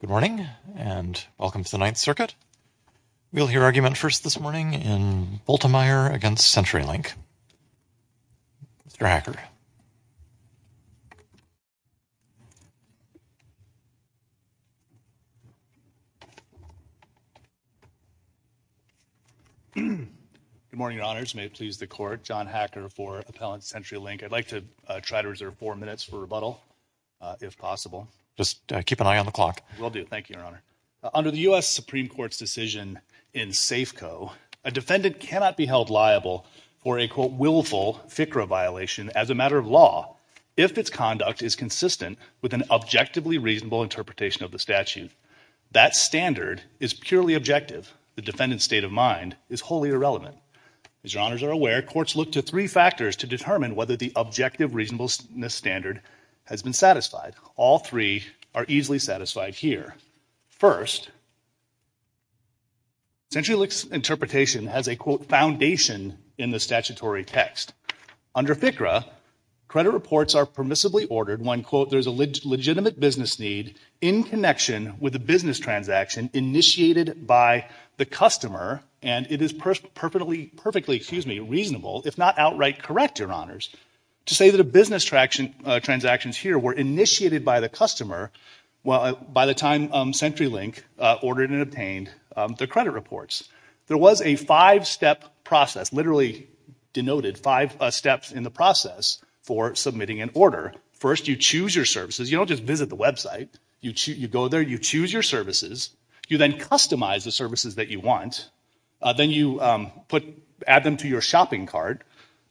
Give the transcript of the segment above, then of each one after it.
Good morning, and welcome to the Ninth Circuit. We'll hear argument first this morning in Bultemeyer v. CenturyLink. Mr. Hacker. Good morning, Your Honors, may it please the Court, John Hacker for Appellant CenturyLink. I'd like to try to reserve four minutes for rebuttal if possible. Just keep an eye on the clock. Will do. Thank you, Your Honor. Under the U.S. Supreme Court's decision in Safeco, a defendant cannot be held liable for a, quote, willful FICRA violation as a matter of law if its conduct is consistent with an objectively reasonable interpretation of the statute. That standard is purely objective. The defendant's state of mind is wholly irrelevant. As Your Honors are aware, courts look to three factors to determine whether the objective reasonableness standard has been satisfied. All three are easily satisfied here. First, CenturyLink's interpretation has a, quote, foundation in the statutory text. Under FICRA, credit reports are permissibly ordered when, quote, there's a legitimate business need in connection with a business transaction initiated by the customer and it is perfectly, excuse me, reasonable, if not outright correct, Your Honors, to say that business transactions here were initiated by the customer by the time CenturyLink ordered and obtained the credit reports. There was a five-step process, literally denoted five steps in the process, for submitting an order. First, you choose your services. You don't just visit the website. You go there, you choose your services, you then customize the services that you want, then you add them to your shopping cart,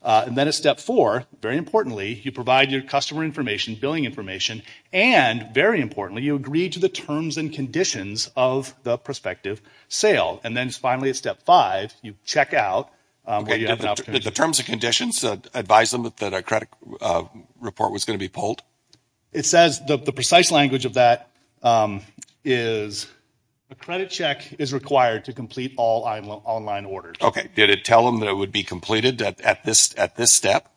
and then at step four, very importantly, you provide your customer information, billing information, and very importantly, you agree to the terms and conditions of the prospective sale. And then finally, at step five, you check out. The terms and conditions advise them that a credit report was going to be pulled? It says, the precise language of that is, a credit check is required to complete all online orders. Okay. Did it tell them that it would be completed at this step?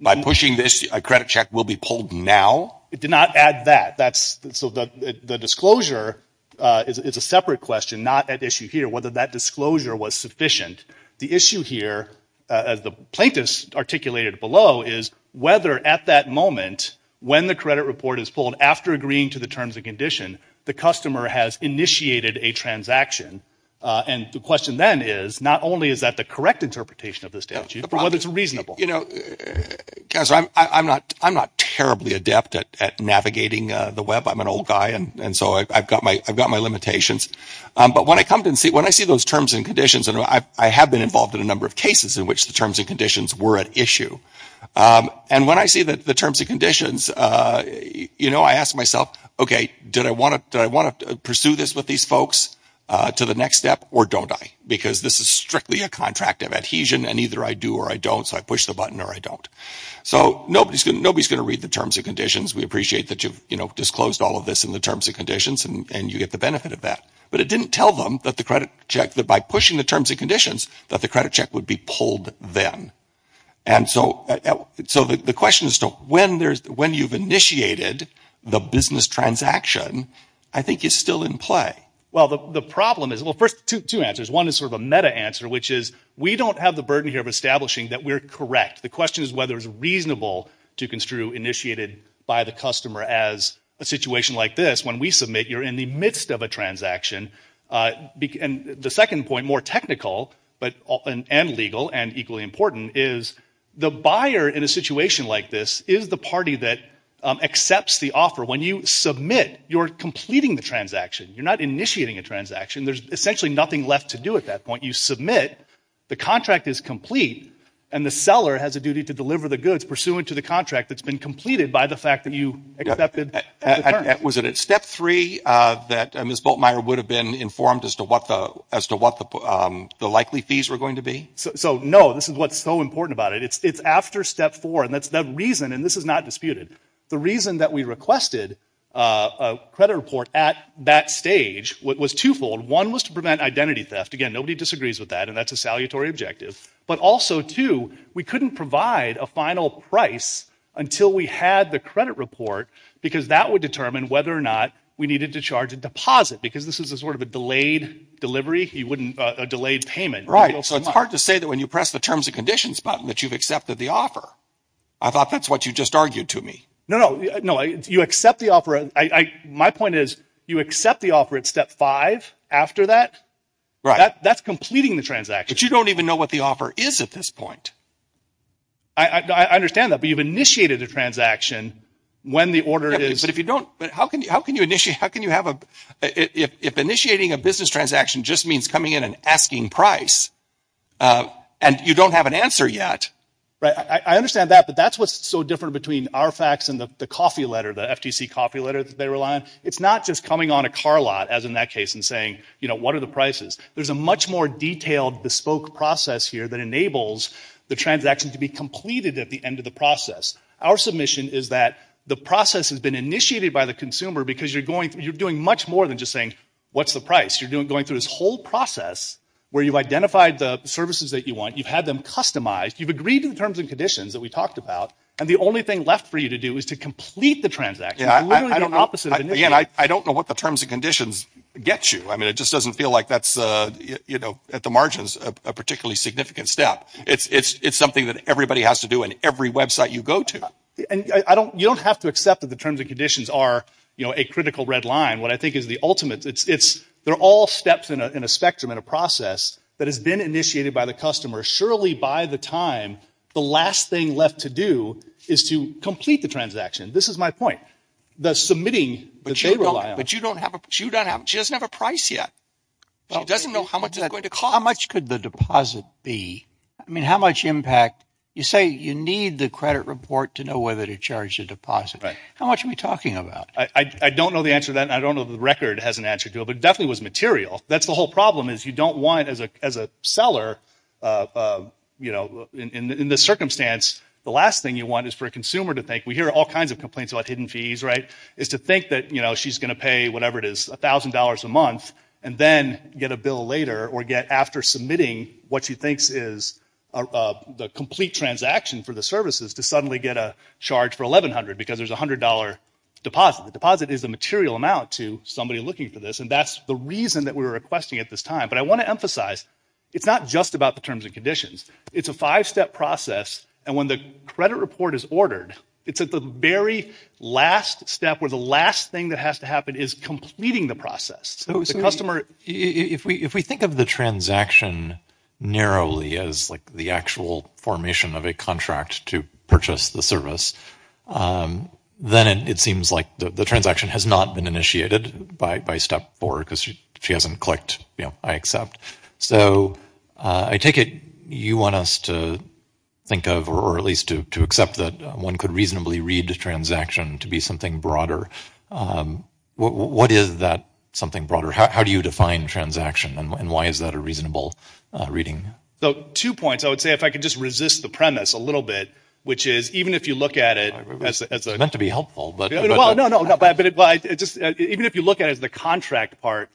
By pushing this, a credit check will be pulled now? It did not add that. So the disclosure is a separate question, not at issue here, whether that disclosure was sufficient. The issue here, as the plaintiff's articulated below, is whether at that moment, when the credit report is pulled, after agreeing to the terms and condition, the customer has initiated a transaction, and the question then is, not only is that the correct interpretation of the statute, but whether it's reasonable. I'm not terribly adept at navigating the web. I'm an old guy, and so I've got my limitations. But when I see those terms and conditions, and I have been involved in a number of cases in which the terms and conditions were at issue. And when I see the terms and conditions, I ask myself, okay, did I want to pursue this with these folks to the next step, or don't I? Because this is strictly a contract of adhesion, and either I do or I don't, so I push the button or I don't. So nobody's going to read the terms and conditions. We appreciate that you've disclosed all of this in the terms and conditions, and you get the benefit of that. But it didn't tell them that the credit check, that by pushing the terms and conditions, that the credit check would be pulled then. And so the question is, when you've initiated the business transaction, I think it's still in play. Well, the problem is, well, first, two answers. One is sort of a meta-answer, which is, we don't have the burden here of establishing that we're correct. The question is whether it's reasonable to construe initiated by the customer as a situation like this, when we submit, you're in the midst of a transaction. And the second point, more technical and legal and equally important, is the buyer in a situation like this is the party that accepts the offer. When you submit, you're completing the transaction. You're not initiating a transaction. There's essentially nothing left to do at that point. You submit, the contract is complete, and the seller has a duty to deliver the goods pursuant to the contract that's been completed by the fact that you accepted the terms. Was it at step three that Ms. Bultmeier would have been informed as to what the likely fees were going to be? So, no, this is what's so important about it. It's after step four, and that's the reason, and this is not disputed. The reason that we requested a credit report at that stage was twofold. One was to prevent identity theft. Again, nobody disagrees with that, and that's a salutary objective. But also, two, we couldn't provide a final price until we had the credit report, because that would determine whether or not we needed to charge a deposit, because this is a sort of a delayed delivery, a delayed payment. So it's hard to say that when you press the terms and conditions button that you've accepted the offer. I thought that's what you just argued to me. No, no. No, you accept the offer. My point is, you accept the offer at step five after that. That's completing the transaction. But you don't even know what the offer is at this point. I understand that, but you've initiated a transaction when the order is... But if you don't... But how can you initiate... How can you have a... If initiating a business transaction just means coming in and asking price, and you don't have an answer yet. Right. I understand that, but that's what's so different between RFACs and the coffee letter, the FTC coffee letter that they rely on. It's not just coming on a car lot, as in that case, and saying, you know, what are the prices? There's a much more detailed, bespoke process here that enables the transaction to be completed at the end of the process. Our submission is that the process has been initiated by the consumer because you're doing much more than just saying, what's the price? You're going through this whole process where you've identified the services that you want, you've had them customized, you've agreed to the terms and conditions that we talked about, and the only thing left for you to do is to complete the transaction. It's literally the opposite of initiating. I don't know what the terms and conditions get you. It just doesn't feel like that's, at the margins, a particularly significant step. It's something that everybody has to do in every website you go to. You don't have to accept that the terms and conditions are a critical red line. What I think is the ultimate, they're all steps in a spectrum, in a process that has been initiated by the customer. Surely, by the time, the last thing left to do is to complete the transaction. This is my point. The submitting that they rely on. She doesn't have a price yet. She doesn't know how much it's going to cost. How much could the deposit be? I mean, how much impact? You say you need the credit report to know whether to charge the deposit. How much are we talking about? I don't know the answer to that. I don't know if the record has an answer to it, but it definitely was material. That's the whole problem, is you don't want, as a seller, in this circumstance, the last thing you want is for a consumer to think, we hear all kinds of complaints about hidden fees, is to think that she's going to pay whatever it is, $1,000 a month, and then get a bill later, or get, after submitting what she thinks is the complete transaction for the services, to suddenly get a charge for $1,100, because there's a $100 deposit. The deposit is the material amount to somebody looking for this, and that's the reason that we were requesting at this time. But I want to emphasize, it's not just about the terms and conditions. It's a five-step process. When the credit report is ordered, it's at the very last step, where the last thing that has to happen is completing the process. If we think of the transaction narrowly as the actual formation of a contract to purchase the service, then it seems like the transaction has not been initiated by step four, because she hasn't clicked, I accept. So I take it you want us to think of, or at least to accept, that one could reasonably read the transaction to be something broader. What is that something broader? How do you define transaction, and why is that a reasonable reading? So two points, I would say, if I could just resist the premise a little bit, which is, even if you look at it as a— It's meant to be helpful, but— Well, no, no, but even if you look at it as the contract part,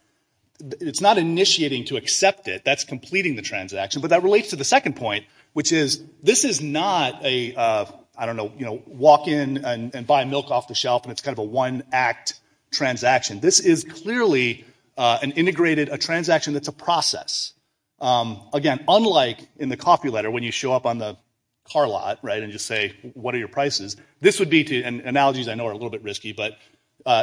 it's not initiating to accept it. That's completing the transaction. But that relates to the second point, which is, this is not a, I don't know, walk in and buy milk off the shelf, and it's kind of a one-act transaction. This is clearly an integrated, a transaction that's a process. Again, unlike in the coffee letter, when you show up on the car lot and just say, what are your prices? This would be to, and analogies I know are a little bit risky, but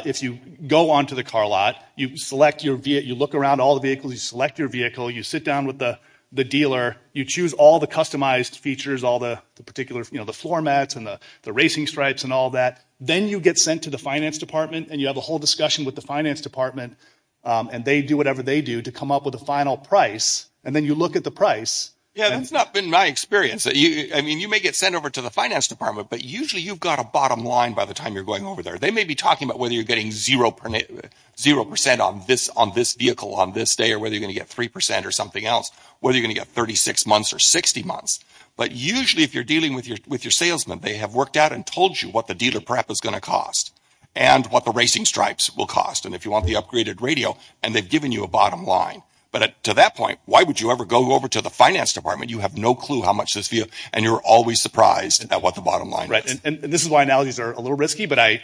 if you go onto the car lot, you select your vehicle, you look around all the vehicles, you select your vehicle, you sit down with the dealer, you choose all the customized features, all the particular, the floor mats, and the racing stripes, and all that. Then you get sent to the finance department, and you have a whole discussion with the finance department, and they do whatever they do to come up with a final price, and then you look at the price. Yeah, that's not been my experience. You may get sent over to the finance department, but usually you've got a bottom line by the time you're going over there. They may be talking about whether you're getting 0% on this vehicle on this day, or whether you're going to get 3% or something else, whether you're going to get 36 months or 60 months, but usually if you're dealing with your salesman, they have worked out and told you what the dealer prep is going to cost, and what the racing stripes will cost, and if you want the upgraded radio, and they've given you a bottom line. But to that point, why would you ever go over to the finance department? You have no clue how much this vehicle, and you're always surprised at what the bottom line is. Right, and this is why analogies are a little risky, but I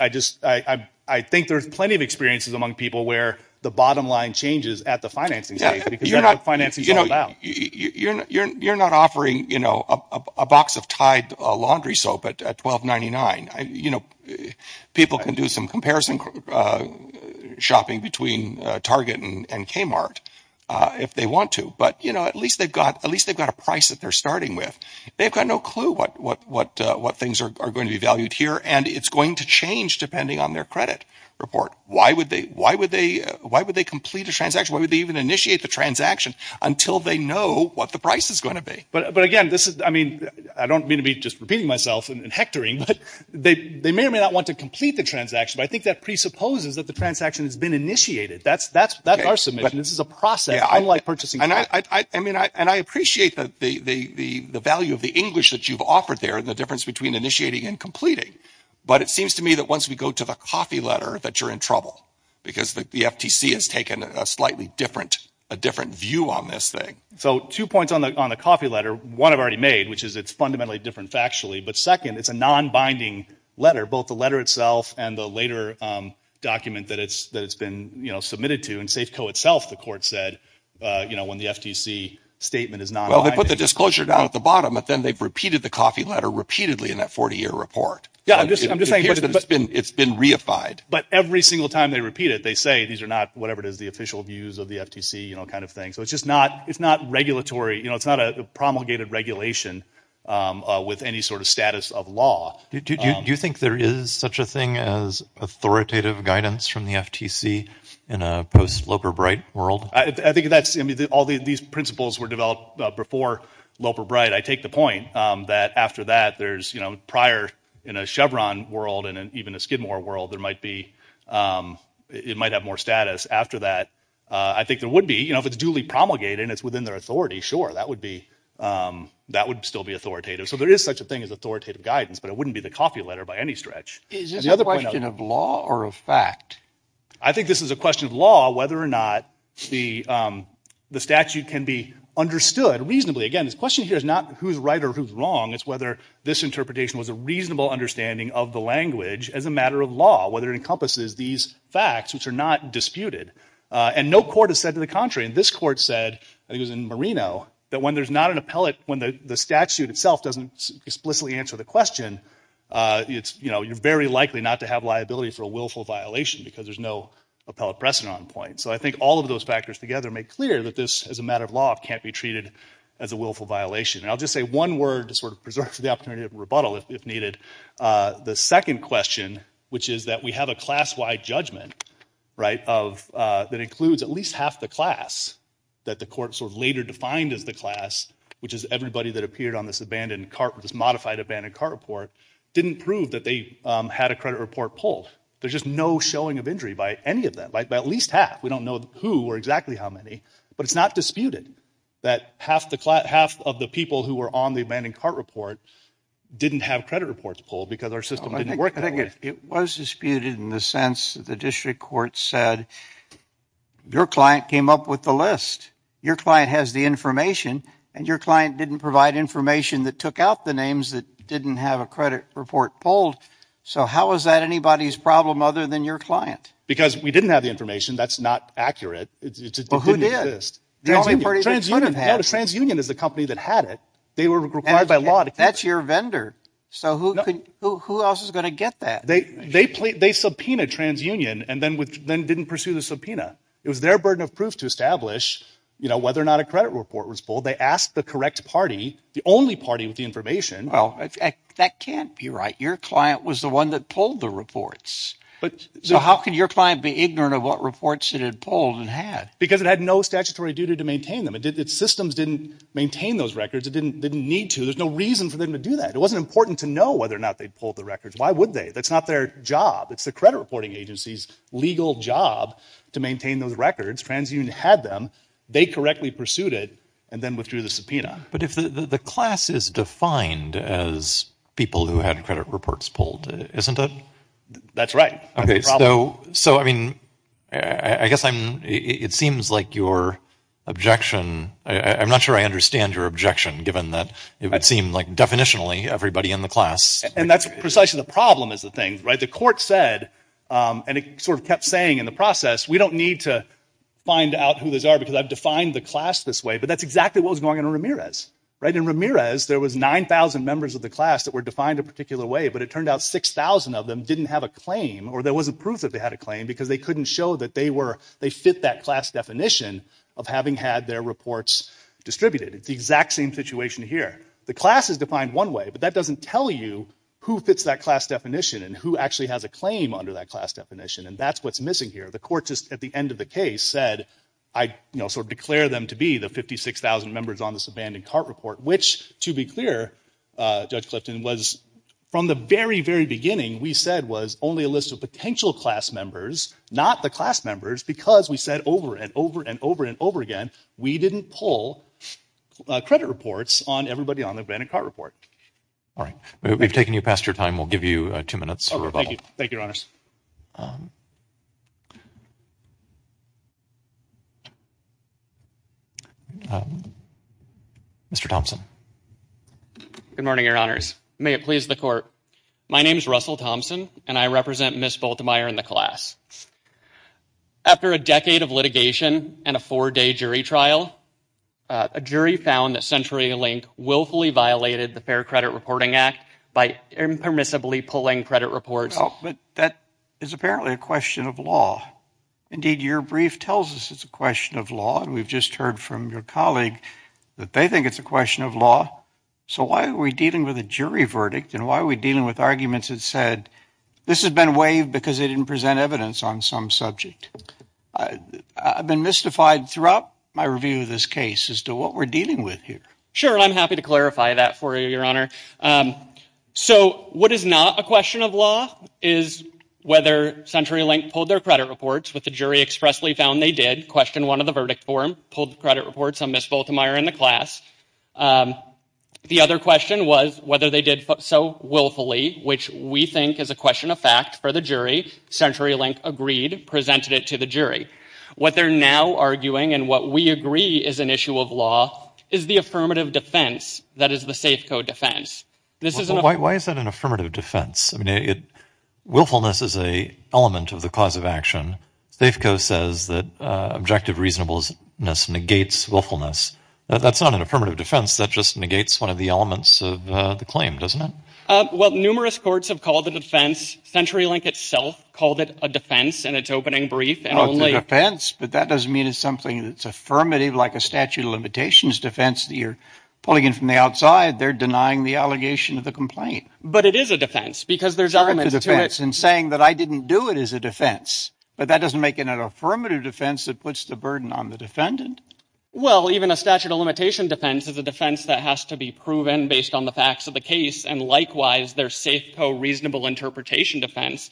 think there's plenty of experiences among people where the bottom line changes at the financing stage, because that's what financing is all about. You're not offering a box of Tide laundry soap at $12.99. People can do some comparison shopping between Target and Kmart if they want to, but at least they've got a price that they're starting with. They've got no clue what things are going to be valued here, and it's going to change depending on their credit report. Why would they complete a transaction? Why would they even initiate the transaction until they know what the price is going to be? But again, I don't mean to be just repeating myself and hectoring, but they may or may not want to complete the transaction, but I think that presupposes that the transaction has been initiated. That's our submission. This is a process, unlike purchasing a car. I appreciate the value of the English that you've offered there and the difference between initiating and completing, but it seems to me that once we go to the coffee letter that you're in trouble, because the FTC has taken a slightly different view on this thing. Two points on the coffee letter. One I've already made, which is it's fundamentally different factually, but second, it's a non-binding letter, both the letter itself and the later document that it's been submitted to. In Safeco itself, the court said, when the FTC statement is non-binding. Well, they put the disclosure down at the bottom, but then they've repeated the coffee letter repeatedly in that 40-year report. It's been reified. But every single time they repeat it, they say these are not, whatever it is, the official views of the FTC kind of thing, so it's not promulgated regulation with any sort of status of law. Do you think there is such a thing as authoritative guidance from the FTC in a post-Loper Bright world? I think that's, I mean, all these principles were developed before Loper Bright. I take the point that after that, there's, you know, prior in a Chevron world and even a Skidmore world, there might be, it might have more status after that. I think there would be, you know, if it's duly promulgated and it's within their authority, sure, that would be, that would still be authoritative. So there is such a thing as authoritative guidance, but it wouldn't be the coffee letter by any stretch. Is this a question of law or of fact? I think this is a question of law, whether or not the statute can be understood reasonably. Again, this question here is not who's right or who's wrong, it's whether this interpretation was a reasonable understanding of the language as a matter of law, whether it encompasses these facts, which are not disputed. And no court has said to the contrary, and this court said, I think it was in Marino, that when there's not an appellate, when the statute itself doesn't explicitly answer the question, it's, you know, you're very likely not to have liability for a willful violation because there's no appellate precedent on point. So I think all of those factors together make clear that this, as a matter of law, can't be treated as a willful violation. And I'll just say one word to sort of preserve the opportunity of rebuttal if needed. The second question, which is that we have a class-wide judgment, right, of, that includes at least half the class that the court sort of later defined as the class, which is everybody that appeared on this abandoned cart, this modified abandoned cart report, didn't prove that they had a credit report pulled. There's just no showing of injury by any of them, by at least half. We don't know who or exactly how many, but it's not disputed that half of the people who were on the abandoned cart report didn't have credit reports pulled because our system didn't work that way. It was disputed in the sense that the district court said, your client came up with the list. Your client has the information, and your client didn't provide information that took out the names that didn't have a credit report pulled. So how is that anybody's problem other than your client? Because we didn't have the information. That's not accurate. It didn't exist. The only party that could have. TransUnion is the company that had it. They were required by law to keep it. That's your vendor. So who else is going to get that? They subpoenaed TransUnion and then didn't pursue the subpoena. It was their burden of proof to establish whether or not a credit report was pulled. They asked the correct party, the only party with the information. That can't be right. Your client was the one that pulled the reports. So how could your client be ignorant of what reports it had pulled and had? Because it had no statutory duty to maintain them. Its systems didn't maintain those records. It didn't need to. There's no reason for them to do that. It wasn't important to know whether or not they pulled the records. Why would they? That's not their job. It's the credit reporting agency's legal job to maintain those records. TransUnion had them. They correctly pursued it and then withdrew the subpoena. But if the class is defined as people who had credit reports pulled, isn't it? That's right. Okay. So, I mean, I guess I'm, it seems like your objection, I'm not sure I understand your objection, given that it would seem like definitionally everybody in the class. And that's precisely the problem is the thing, right? The court said, and it sort of kept saying in the process, we don't need to find out who those are because I've defined the class this way. But that's exactly what was going on in Ramirez, right? In Ramirez, there was 9,000 members of the class that were defined a particular way, but it turned out 6,000 of them didn't have a claim or there wasn't proof that they had a claim because they couldn't show that they were, they fit that class definition of having had their reports distributed. It's the exact same situation here. The class is defined one way, but that doesn't tell you who fits that class definition and who actually has a claim under that class definition. And that's what's missing here. The court just at the end of the case said, I sort of declare them to be the 56,000 members on this abandoned cart report, which to be clear, Judge Clifton, was from the very, very beginning we said was only a list of potential class members, not the class members, because we said over and over and over and over again, we didn't pull credit reports on everybody on the abandoned cart report. All right. We've taken you past your time. We'll give you two minutes. Thank you. Thank you, Your Honors. Mr. Thompson. Good morning, Your Honors. May it please the court. My name is Russell Thompson and I represent Ms. Bultemeier in the class. After a decade of litigation and a four-day jury trial, a jury found that CenturyLink willfully violated the Fair Credit Reporting Act by impermissibly pulling credit reports. Well, but that is apparently a question of law. Indeed, your brief tells us it's a question of law, and we've just heard from your colleague that they think it's a question of law. So why are we dealing with a jury verdict and why are we dealing with arguments that this has been waived because they didn't present evidence on some subject? I've been mystified throughout my review of this case as to what we're dealing with here. Sure. I'm happy to clarify that for you, Your Honor. So what is not a question of law is whether CenturyLink pulled their credit reports, which the jury expressly found they did, questioned one of the verdict form, pulled credit reports on Ms. Bultemeier in the class. The other question was whether they did so willfully, which we think is a question of fact for the jury. CenturyLink agreed, presented it to the jury. What they're now arguing and what we agree is an issue of law is the affirmative defense that is the SAFCO defense. This is an— Why is that an affirmative defense? I mean, willfulness is an element of the cause of action. SAFCO says that objective reasonableness negates willfulness. That's not an affirmative defense, that just negates one of the elements of the claim, doesn't it? Well, numerous courts have called the defense—CenturyLink itself called it a defense in its opening brief and only— Oh, it's a defense, but that doesn't mean it's something that's affirmative like a statute of limitations defense that you're pulling in from the outside. They're denying the allegation of the complaint. But it is a defense because there's elements to it— And saying that I didn't do it is a defense, but that doesn't make it an affirmative defense that puts the burden on the defendant. Well, even a statute of limitation defense is a defense that has to be proven based on the facts of the case, and likewise, their SAFCO reasonable interpretation defense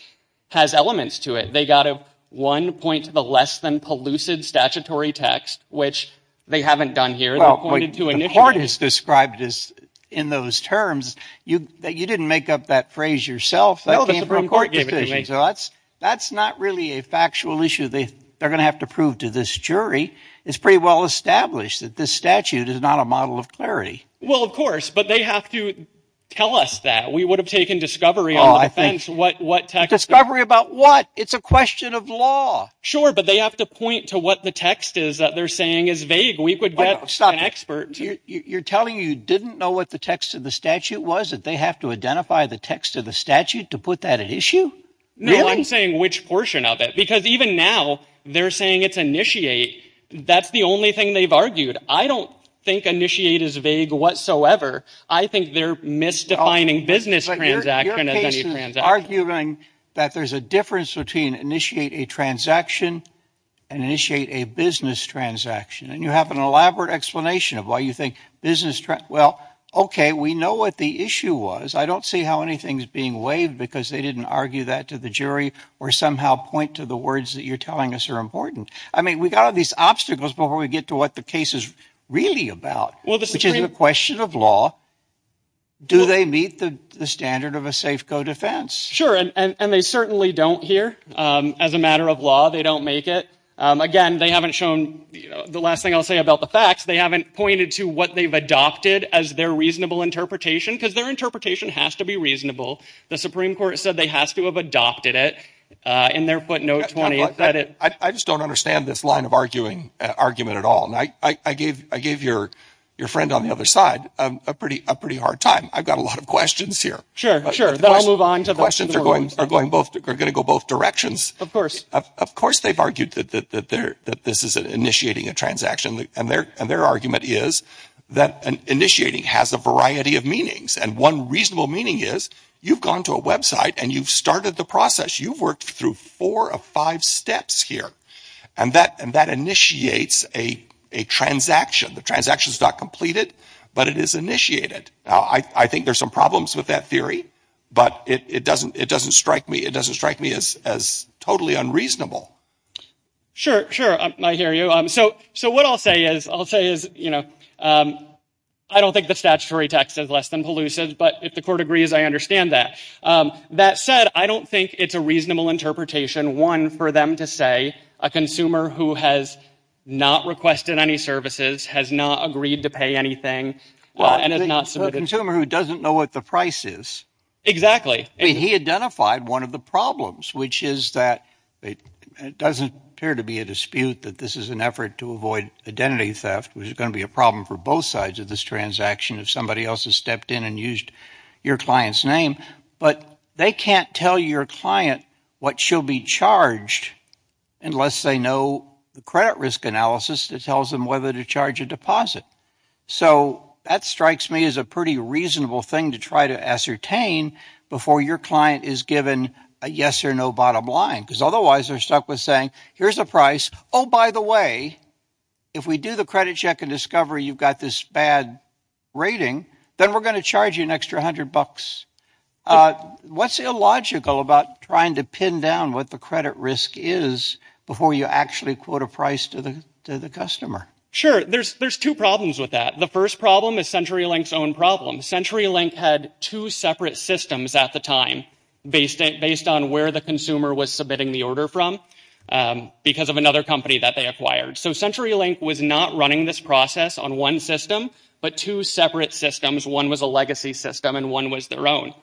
has elements to it. They got one point to the less-than-pollucid statutory text, which they haven't done here. Well, the court has described this in those terms. You didn't make up that phrase yourself. No, the Supreme Court gave it to me. That's not really a factual issue they're going to have to prove to this jury. It's pretty well-established that this statute is not a model of clarity. Well, of course, but they have to tell us that. We would have taken discovery on the defense. Discovery about what? It's a question of law. Sure, but they have to point to what the text is that they're saying is vague. We could get an expert. You're telling you didn't know what the text of the statute was that they have to identify the text of the statute to put that at issue? No, I'm saying which portion of it. Because even now, they're saying it's initiate. That's the only thing they've argued. I don't think initiate is vague whatsoever. I think they're misdefining business transaction as any transaction. But your case is arguing that there's a difference between initiate a transaction and initiate a business transaction. And you have an elaborate explanation of why you think business—well, okay, we know what the issue was. I don't see how anything's being waived because they didn't argue that to the jury or somehow point to the words that you're telling us are important. I mean, we got all these obstacles before we get to what the case is really about, which is a question of law. Do they meet the standard of a safe-go defense? Sure, and they certainly don't here. As a matter of law, they don't make it. Again, they haven't shown—the last thing I'll say about the facts, they haven't pointed to what they've adopted as their reasonable interpretation because their interpretation has to be reasonable. The Supreme Court said they have to have adopted it, and they're putting out 20— I just don't understand this line of argument at all. I gave your friend on the other side a pretty hard time. I've got a lot of questions here. Sure, sure. I'll move on to the questions. The questions are going to go both directions. Of course. Of course they've argued that this is initiating a transaction, and their argument is that initiating has a variety of meanings. One reasonable meaning is you've gone to a website and you've started the process. You've worked through four of five steps here, and that initiates a transaction. The transaction's not completed, but it is initiated. I think there's some problems with that theory, but it doesn't strike me as totally unreasonable. Sure, sure. I hear you. So what I'll say is, I'll say is, you know, I don't think the statutory text is less than pellucid, but if the court agrees, I understand that. That said, I don't think it's a reasonable interpretation, one, for them to say a consumer who has not requested any services, has not agreed to pay anything, and has not submitted— Well, a consumer who doesn't know what the price is— Exactly. He identified one of the problems, which is that it doesn't appear to be a dispute that this is an effort to avoid identity theft, which is going to be a problem for both sides of this transaction if somebody else has stepped in and used your client's name. But they can't tell your client what she'll be charged unless they know the credit risk analysis that tells them whether to charge a deposit. So that strikes me as a pretty reasonable thing to try to ascertain before your client is given a yes or no bottom line, because otherwise they're stuck with saying, here's a price. Oh, by the way, if we do the credit check and discover you've got this bad rating, then we're going to charge you an extra $100. What's illogical about trying to pin down what the credit risk is before you actually quote a price to the customer? Sure. There's two problems with that. The first problem is CenturyLink's own problem. CenturyLink had two separate systems at the time, based on where the consumer was submitting the order from, because of another company that they acquired. So CenturyLink was not running this process on one system, but two separate systems. One was a legacy system, and one was their own.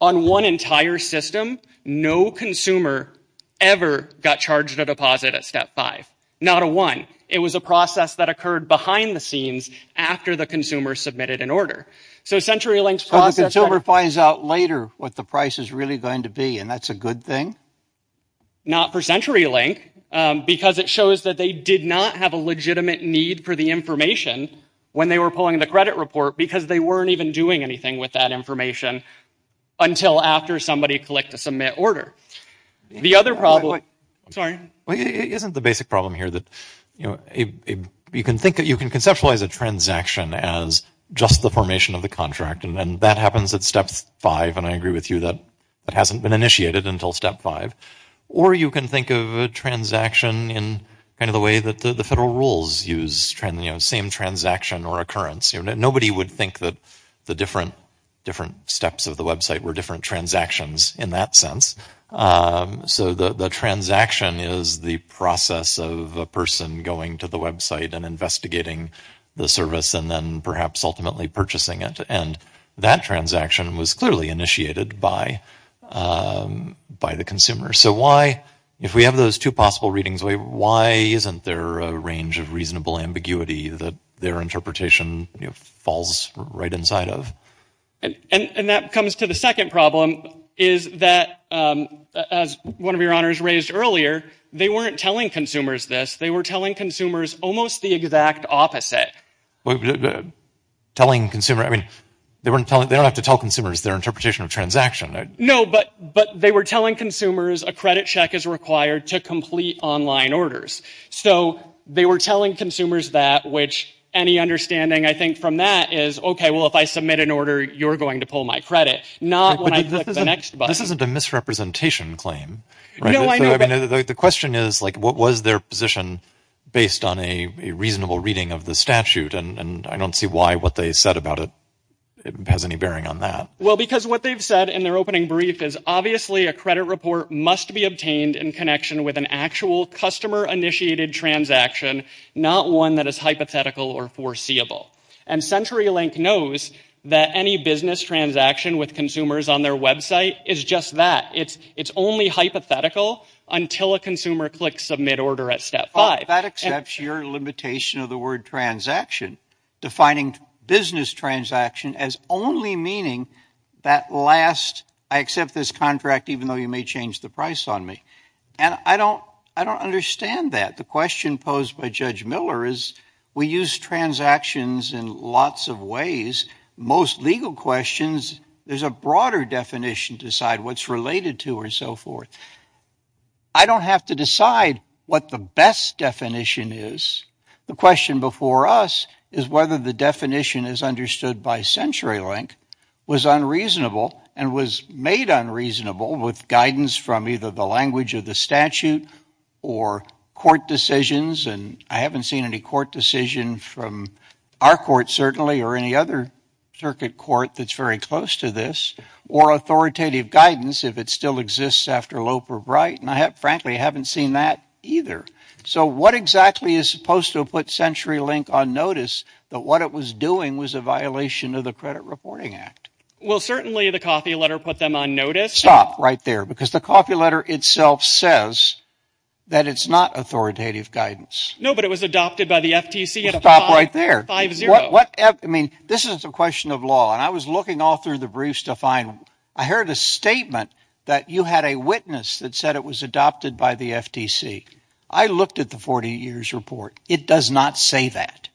On one entire system, no consumer ever got charged a deposit at step five. Not a one. It was a process that occurred behind the scenes after the consumer submitted an order. So CenturyLink's process— So the consumer finds out later what the price is really going to be, and that's a good thing. Not for CenturyLink, because it shows that they did not have a legitimate need for the information when they were pulling the credit report, because they weren't even doing anything with that information until after somebody clicked a submit order. The other problem— Wait, wait, wait. Sorry. Isn't the basic problem here that you can conceptualize a transaction as just the formation of the contract, and that happens at step five, and I agree with you that that hasn't been initiated until step five. Or you can think of a transaction in kind of the way that the federal rules use same transaction or occurrence. Nobody would think that the different steps of the website were different transactions in that sense. So the transaction is the process of a person going to the website and investigating the service and then perhaps ultimately purchasing it, and that transaction was clearly initiated by the consumer. So why, if we have those two possible readings, why isn't there a range of reasonable ambiguity that their interpretation falls right inside of? And that comes to the second problem, is that, as one of your honors raised earlier, they weren't telling consumers this. They were telling consumers almost the exact opposite. Telling consumer—I mean, they don't have to tell consumers their interpretation of the transaction. No, but they were telling consumers a credit check is required to complete online orders. So they were telling consumers that, which, any understanding, I think, from that is, okay, well, if I submit an order, you're going to pull my credit, not when I click the next button. This isn't a misrepresentation claim. The question is, like, what was their position based on a reasonable reading of the statute, and I don't see why what they said about it has any bearing on that. Well, because what they've said in their opening brief is, obviously, a credit report must be obtained in connection with an actual customer-initiated transaction, not one that is hypothetical or foreseeable. And CenturyLink knows that any business transaction with consumers on their website is just that. It's only hypothetical until a consumer clicks Submit Order at Step 5. That accepts your limitation of the word transaction, defining business transaction as only meaning that last, I accept this contract even though you may change the price on me. And I don't understand that. The question posed by Judge Miller is, we use transactions in lots of ways. Most legal questions, there's a broader definition to decide what's related to or so forth. I don't have to decide what the best definition is. The question before us is whether the definition as understood by CenturyLink was unreasonable and was made unreasonable with guidance from either the language of the statute or court decisions, and I haven't seen any court decision from our court, certainly, or any other circuit court that's very close to this, or authoritative guidance, if it still exists after Loeb or Bright, and I frankly haven't seen that either. So what exactly is supposed to have put CenturyLink on notice that what it was doing was a violation of the Credit Reporting Act? Well, certainly the coffee letter put them on notice. Stop right there, because the coffee letter itself says that it's not authoritative guidance. No, but it was adopted by the FTC at a 5-0. Stop right there. What, I mean, this is a question of law, and I was looking all through the briefs to find, I heard a statement that you had a witness that said it was adopted by the FTC. I looked at the 40 years report. It does not say that.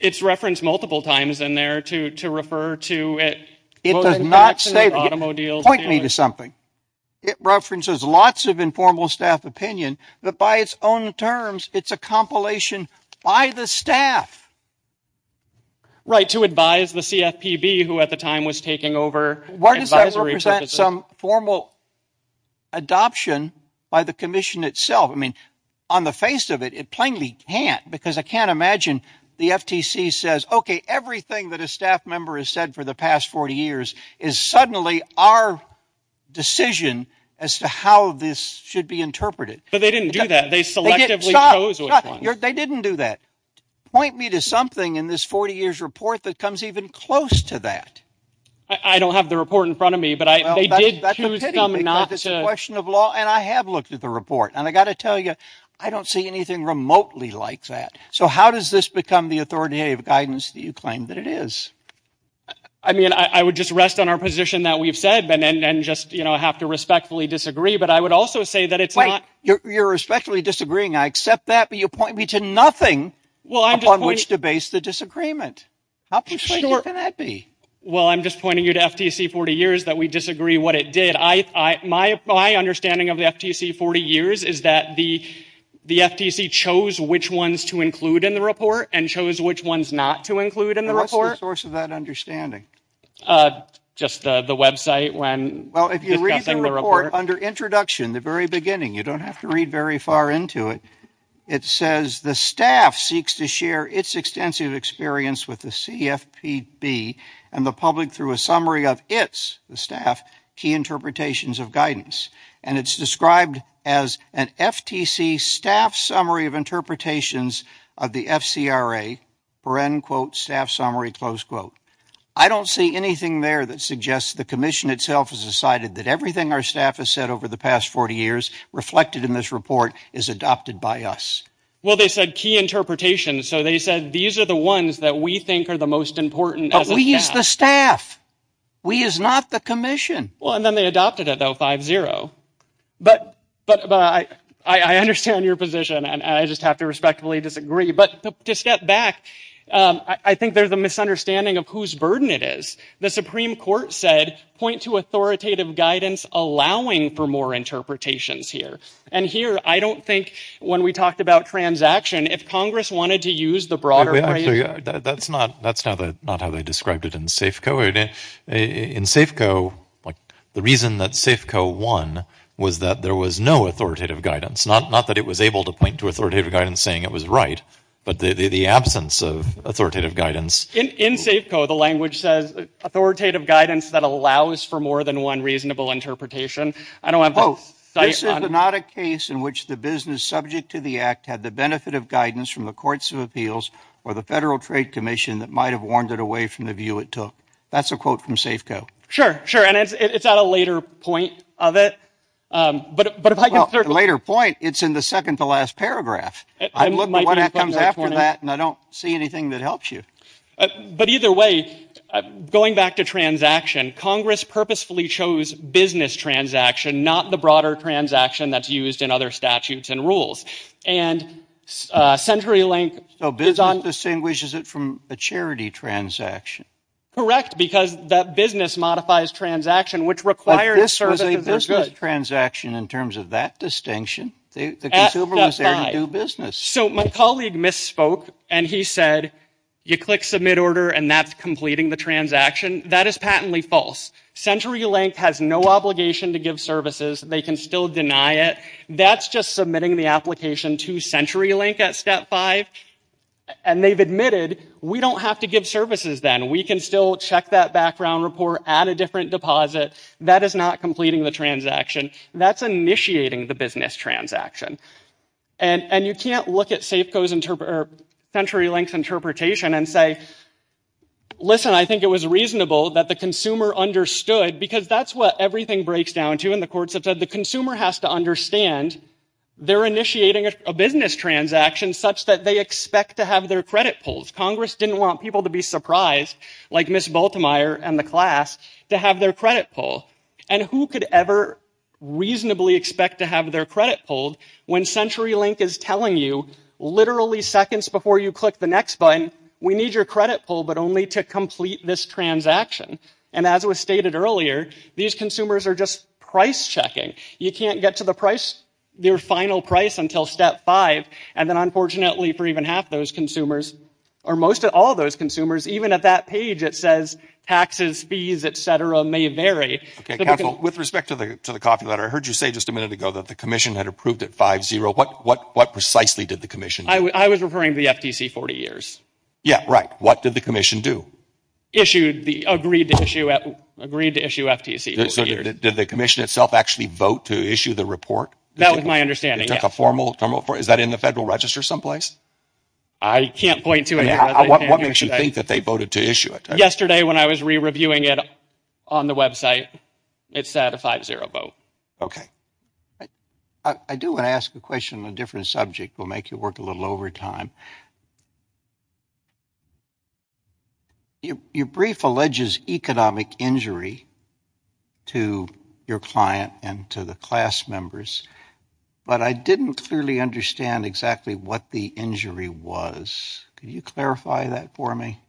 It's referenced multiple times in there to refer to it. It does not say, point me to something. It references lots of informal staff opinion, but by its own terms, it's a compilation by the staff. Right, to advise the CFPB, who at the time was taking over advisory purposes. Some formal adoption by the Commission itself. I mean, on the face of it, it plainly can't, because I can't imagine the FTC says, okay, everything that a staff member has said for the past 40 years is suddenly our decision as to how this should be interpreted. But they didn't do that. They selectively chose which one. They didn't do that. Point me to something in this 40 years report that comes even close to that. I don't have the report in front of me, but they did choose them not to. Well, that's a pity, because it's a question of law, and I have looked at the report. And I've got to tell you, I don't see anything remotely like that. So how does this become the authoritative guidance that you claim that it is? I mean, I would just rest on our position that we've said, and just, you know, have to respectfully disagree. But I would also say that it's not... Wait, you're respectfully disagreeing. I accept that, but you point me to nothing upon which to base the disagreement. How persuasive can that be? Well, I'm just pointing you to FTC 40 years that we disagree what it did. My understanding of the FTC 40 years is that the FTC chose which ones to include in the report and chose which ones not to include in the report. What's the source of that understanding? Just the website when... Well, if you read the report under introduction, the very beginning, you don't have to read very far into it. It says, the staff seeks to share its extensive experience with the CFPB and the public through a summary of its, the staff, key interpretations of guidance. And it's described as an FTC staff summary of interpretations of the FCRA, for end quote, staff summary, close quote. I don't see anything there that suggests the commission itself has decided that everything our staff has said over the past 40 years reflected in this report is adopted by us. Well, they said key interpretation. So they said, these are the ones that we think are the most important. But we use the staff. We is not the commission. Well, and then they adopted it though, 5-0. But I understand your position and I just have to respectfully disagree. But to step back, I think there's a misunderstanding of whose burden it is. The Supreme Court said, point to authoritative guidance allowing for more interpretations here. And here, I don't think, when we talked about transaction, if Congress wanted to use the broader frame. Actually, that's not how they described it in Safeco. In Safeco, the reason that Safeco won was that there was no authoritative guidance. Not that it was able to point to authoritative guidance saying it was right. But the absence of authoritative guidance. In Safeco, the language says authoritative guidance that allows for more than one reasonable interpretation. I don't want to quote. This is not a case in which the business subject to the act had the benefit of guidance from the courts of appeals or the Federal Trade Commission that might have warned it away from the view it took. That's a quote from Safeco. Sure, sure. And it's at a later point of it. But but if I later point, it's in the second to last paragraph. I've looked at what comes after that and I don't see anything that helps you. But either way, going back to transaction, Congress purposefully chose business transaction, not the broader transaction that's used in other statutes and rules. And CenturyLink is on... So business distinguishes it from a charity transaction. Correct, because that business modifies transaction, which requires service to the good. But this was a business transaction in terms of that distinction. The consumer was there to do business. So my colleague misspoke and he said, you click submit order and that's completing the transaction. That is patently false. CenturyLink has no obligation to give services. They can still deny it. That's just submitting the application to CenturyLink at step five. And they've admitted we don't have to give services then. We can still check that background report at a different deposit. That is not completing the transaction. That's initiating the business transaction. And you can't look at CenturyLink's interpretation and say, listen, I think it was reasonable that the consumer understood, because that's what everything breaks down to. And the courts have said the consumer has to understand they're initiating a business transaction such that they expect to have their credit pulls. Congress didn't want people to be surprised, like Miss Baltimore and the class, to have their credit pull. And who could ever reasonably expect to have their credit pulled when CenturyLink is telling you literally seconds before you click the next button, we need your credit pull, but only to complete this transaction. And as was stated earlier, these consumers are just price checking. You can't get to the price, their final price until step five. And then unfortunately for even half those consumers, or most of all those consumers, even at that page it says taxes, fees, etc. may vary. With respect to the copy letter, I heard you say just a minute ago that the Commission had approved it 5-0. What precisely did the Commission do? I was referring to the FTC 40 years. Yeah, right. What did the Commission do? Issued the, agreed to issue FTC 40 years. Did the Commission itself actually vote to issue the report? That was my understanding. It took a formal, is that in the Federal Register someplace? I can't point to it. What makes you think that they voted to issue it? Yesterday when I was re-reviewing it on the website, it said a 5-0 vote. I do want to ask a question on a different subject. It will make you work a little over time. Your brief alleges economic injury to your client and to the class members, but I didn't clearly understand exactly what the injury was. Could you clarify that for me?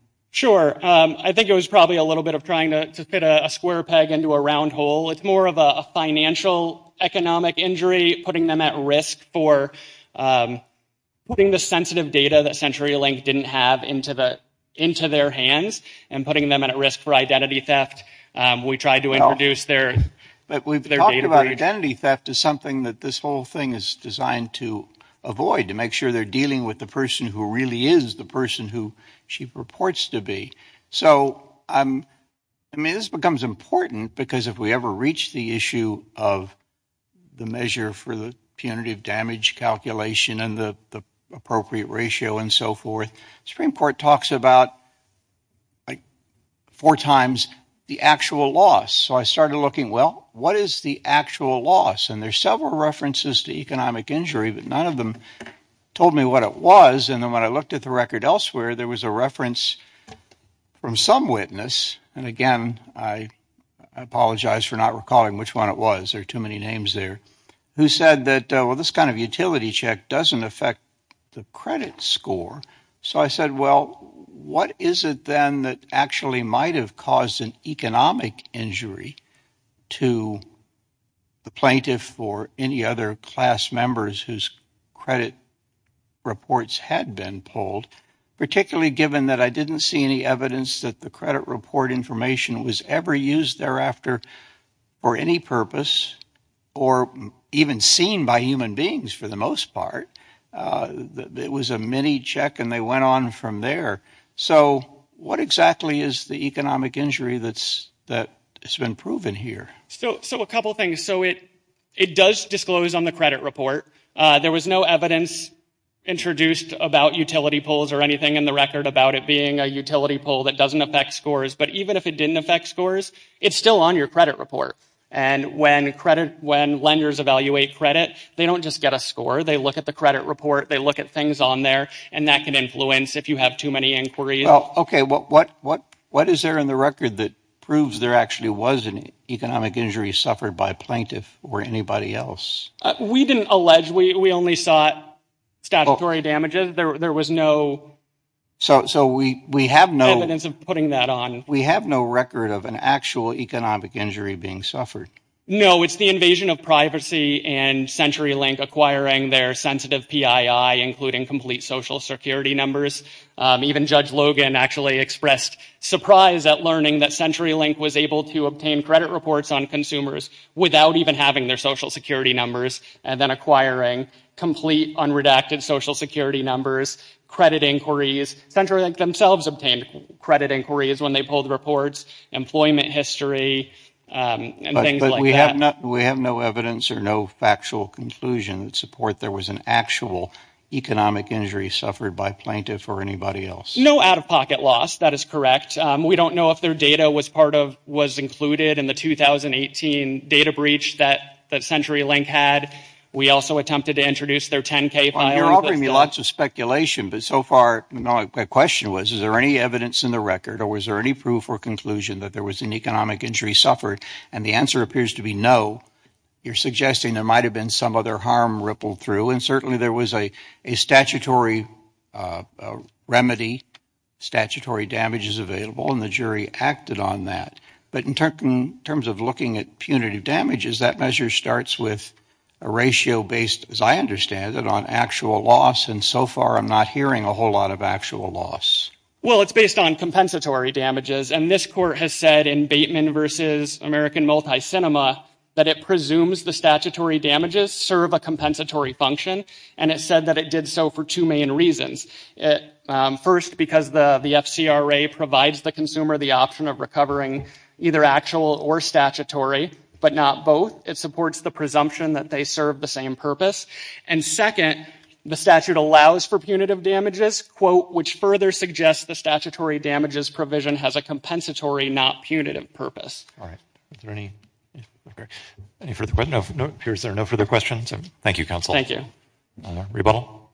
I think it was probably a little bit of trying to fit a square peg into a round hole. It's more of a financial, economic injury, putting them at risk for putting the sensitive data that CenturyLink didn't have into their hands and putting them at risk for identity theft. We tried to introduce their database. But we've talked about identity theft as something that this whole thing is designed to avoid, to make sure they're dealing with the person who really is the person who she purports to be. So, I mean, this becomes important because if we ever reach the issue of the measure for the punitive damage calculation and the appropriate ratio and so forth, the Supreme Court talks about four times the actual loss. So I started looking, well, what is the actual loss? And there's several references to economic injury, but none of them told me what it was. And then when I looked at the record elsewhere, there was a reference from some witness, and again, I apologize for not recalling which one it was. There are too many names there, who said that, well, this kind of utility check doesn't affect the credit score. So I said, well, what is it then that actually might have caused an economic injury to the plaintiff or any other class members whose credit reports had been pulled, particularly given that I didn't see any evidence that the credit report information was ever used thereafter for any purpose or even seen by human beings for the most part. It was a mini check, and they went on from there. So what exactly is the economic injury that's been proven here? So a couple things. So it does disclose on the credit report. There was no evidence introduced about utility pulls or anything in the record about it being a utility pull that doesn't affect scores. But even if it didn't affect scores, it's still on your credit report. And when lenders evaluate credit, they don't just get a score. They look at the credit report, they look at things on there, and that can influence if you have too many inquiries. Well, OK, what is there in the record that proves there actually was an economic injury suffered by a plaintiff or anybody else? We didn't allege. We only saw statutory damages. There was no evidence of putting that on. We have no record of an actual economic injury being suffered. No, it's the invasion of privacy and CenturyLink acquiring their sensitive PII, including complete social security numbers. Even Judge Logan actually expressed surprise at learning that CenturyLink was able to obtain credit reports on consumers without even having their social security numbers, and then acquiring complete unredacted social security numbers, credit inquiries. CenturyLink themselves obtained credit inquiries when they pulled reports, employment history, and things like that. But we have no evidence or no factual conclusion that support there was an actual economic injury suffered by a plaintiff or anybody else. No out-of-pocket loss, that is correct. We don't know if their data was included in the 2018 data breach that CenturyLink had. We also attempted to introduce their 10K PII. Well, you're offering me lots of speculation, but so far my question was, is there any evidence in the record or was there any proof or conclusion that there was an economic injury suffered? And the answer appears to be no. You're suggesting there might have been some other harm rippled through, and certainly there was a statutory remedy, statutory damages available, and the jury acted on that. But in terms of looking at punitive damages, that measure starts with a ratio based, as I understand it, on actual loss, and so far I'm not hearing a whole lot of actual loss. Well, it's based on compensatory damages, and this Court has said in Bateman v. American and it said that it did so for two main reasons. First, because the FCRA provides the consumer the option of recovering either actual or statutory, but not both. It supports the presumption that they serve the same purpose. And second, the statute allows for punitive damages, quote, which further suggests the statutory damages provision has a compensatory, not punitive purpose. All right. Is there any further questions? No. It appears there are no further questions. Thank you, counsel. Thank you. No more. Rebuttal?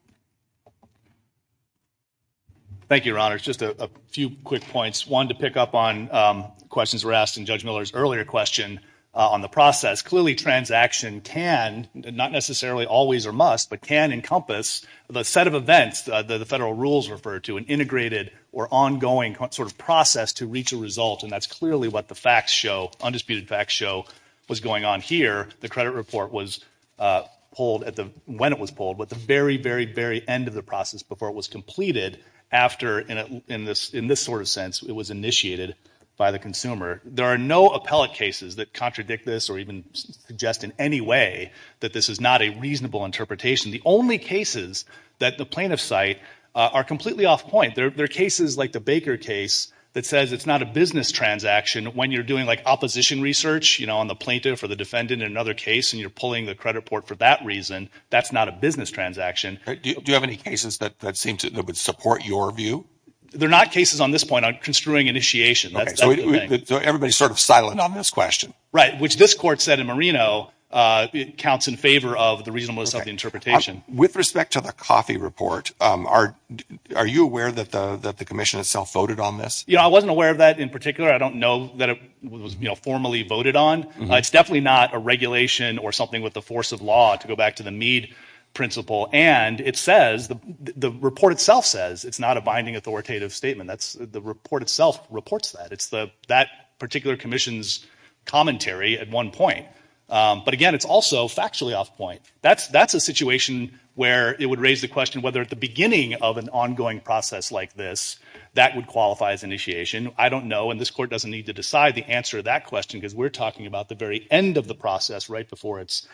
Thank you, Your Honors. Just a few quick points. One to pick up on questions were asked in Judge Miller's earlier question on the process. Clearly transaction can, not necessarily always or must, but can encompass the set of events that the federal rules refer to, an integrated or ongoing sort of process to reach a result, and that's clearly what the facts show, undisputed facts show, was going on here. The credit report was pulled when it was pulled, but the very, very, very end of the process before it was completed after, in this sort of sense, it was initiated by the consumer. There are no appellate cases that contradict this or even suggest in any way that this is not a reasonable interpretation. The only cases that the plaintiff cite are completely off point. There are cases like the Baker case that says it's not a business transaction when you're doing like opposition research, you know, on the plaintiff or the defendant in another case and you're pulling the credit report for that reason. That's not a business transaction. Do you have any cases that seem to support your view? They're not cases on this point on construing initiation. So everybody's sort of silent on this question. Right, which this court said in Marino, it counts in favor of the reasonableness of the interpretation. With respect to the coffee report, are you aware that the commission itself voted on this? Yeah, I wasn't aware of that in particular. I don't know that it was, you know, formally voted on. It's definitely not a regulation or something with the force of law, to go back to the Mead principle. And it says, the report itself says, it's not a binding authoritative statement. The report itself reports that. It's that particular commission's commentary at one point. But again, it's also factually off point. That's a situation where it would raise the question whether at the beginning of an ongoing process like this, that would qualify as initiation. I don't know. And this court doesn't need to decide the answer to that question, because we're talking about the very end of the process, right before it's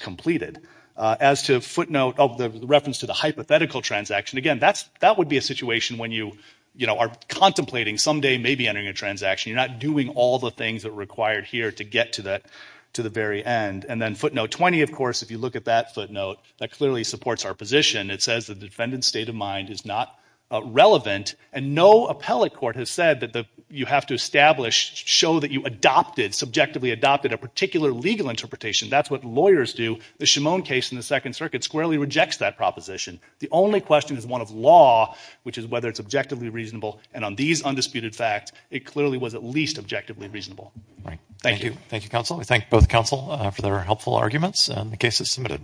completed. As to footnote of the reference to the hypothetical transaction, again, that would be a situation when you, you know, are contemplating someday maybe entering a transaction. You're not doing all the things that are required here to get to the very end. And then footnote 20, of course, if you look at that footnote, that clearly supports our position. It says the defendant's state of mind is not relevant. And no appellate court has said that you have to establish, show that you adopted, subjectively adopted a particular legal interpretation. That's what lawyers do. The Shimone case in the Second Circuit squarely rejects that proposition. The only question is one of law, which is whether it's objectively reasonable. And on these undisputed facts, it clearly was at least objectively reasonable. Thank you. Thank you, counsel. We thank both counsel for their helpful arguments and the cases submitted.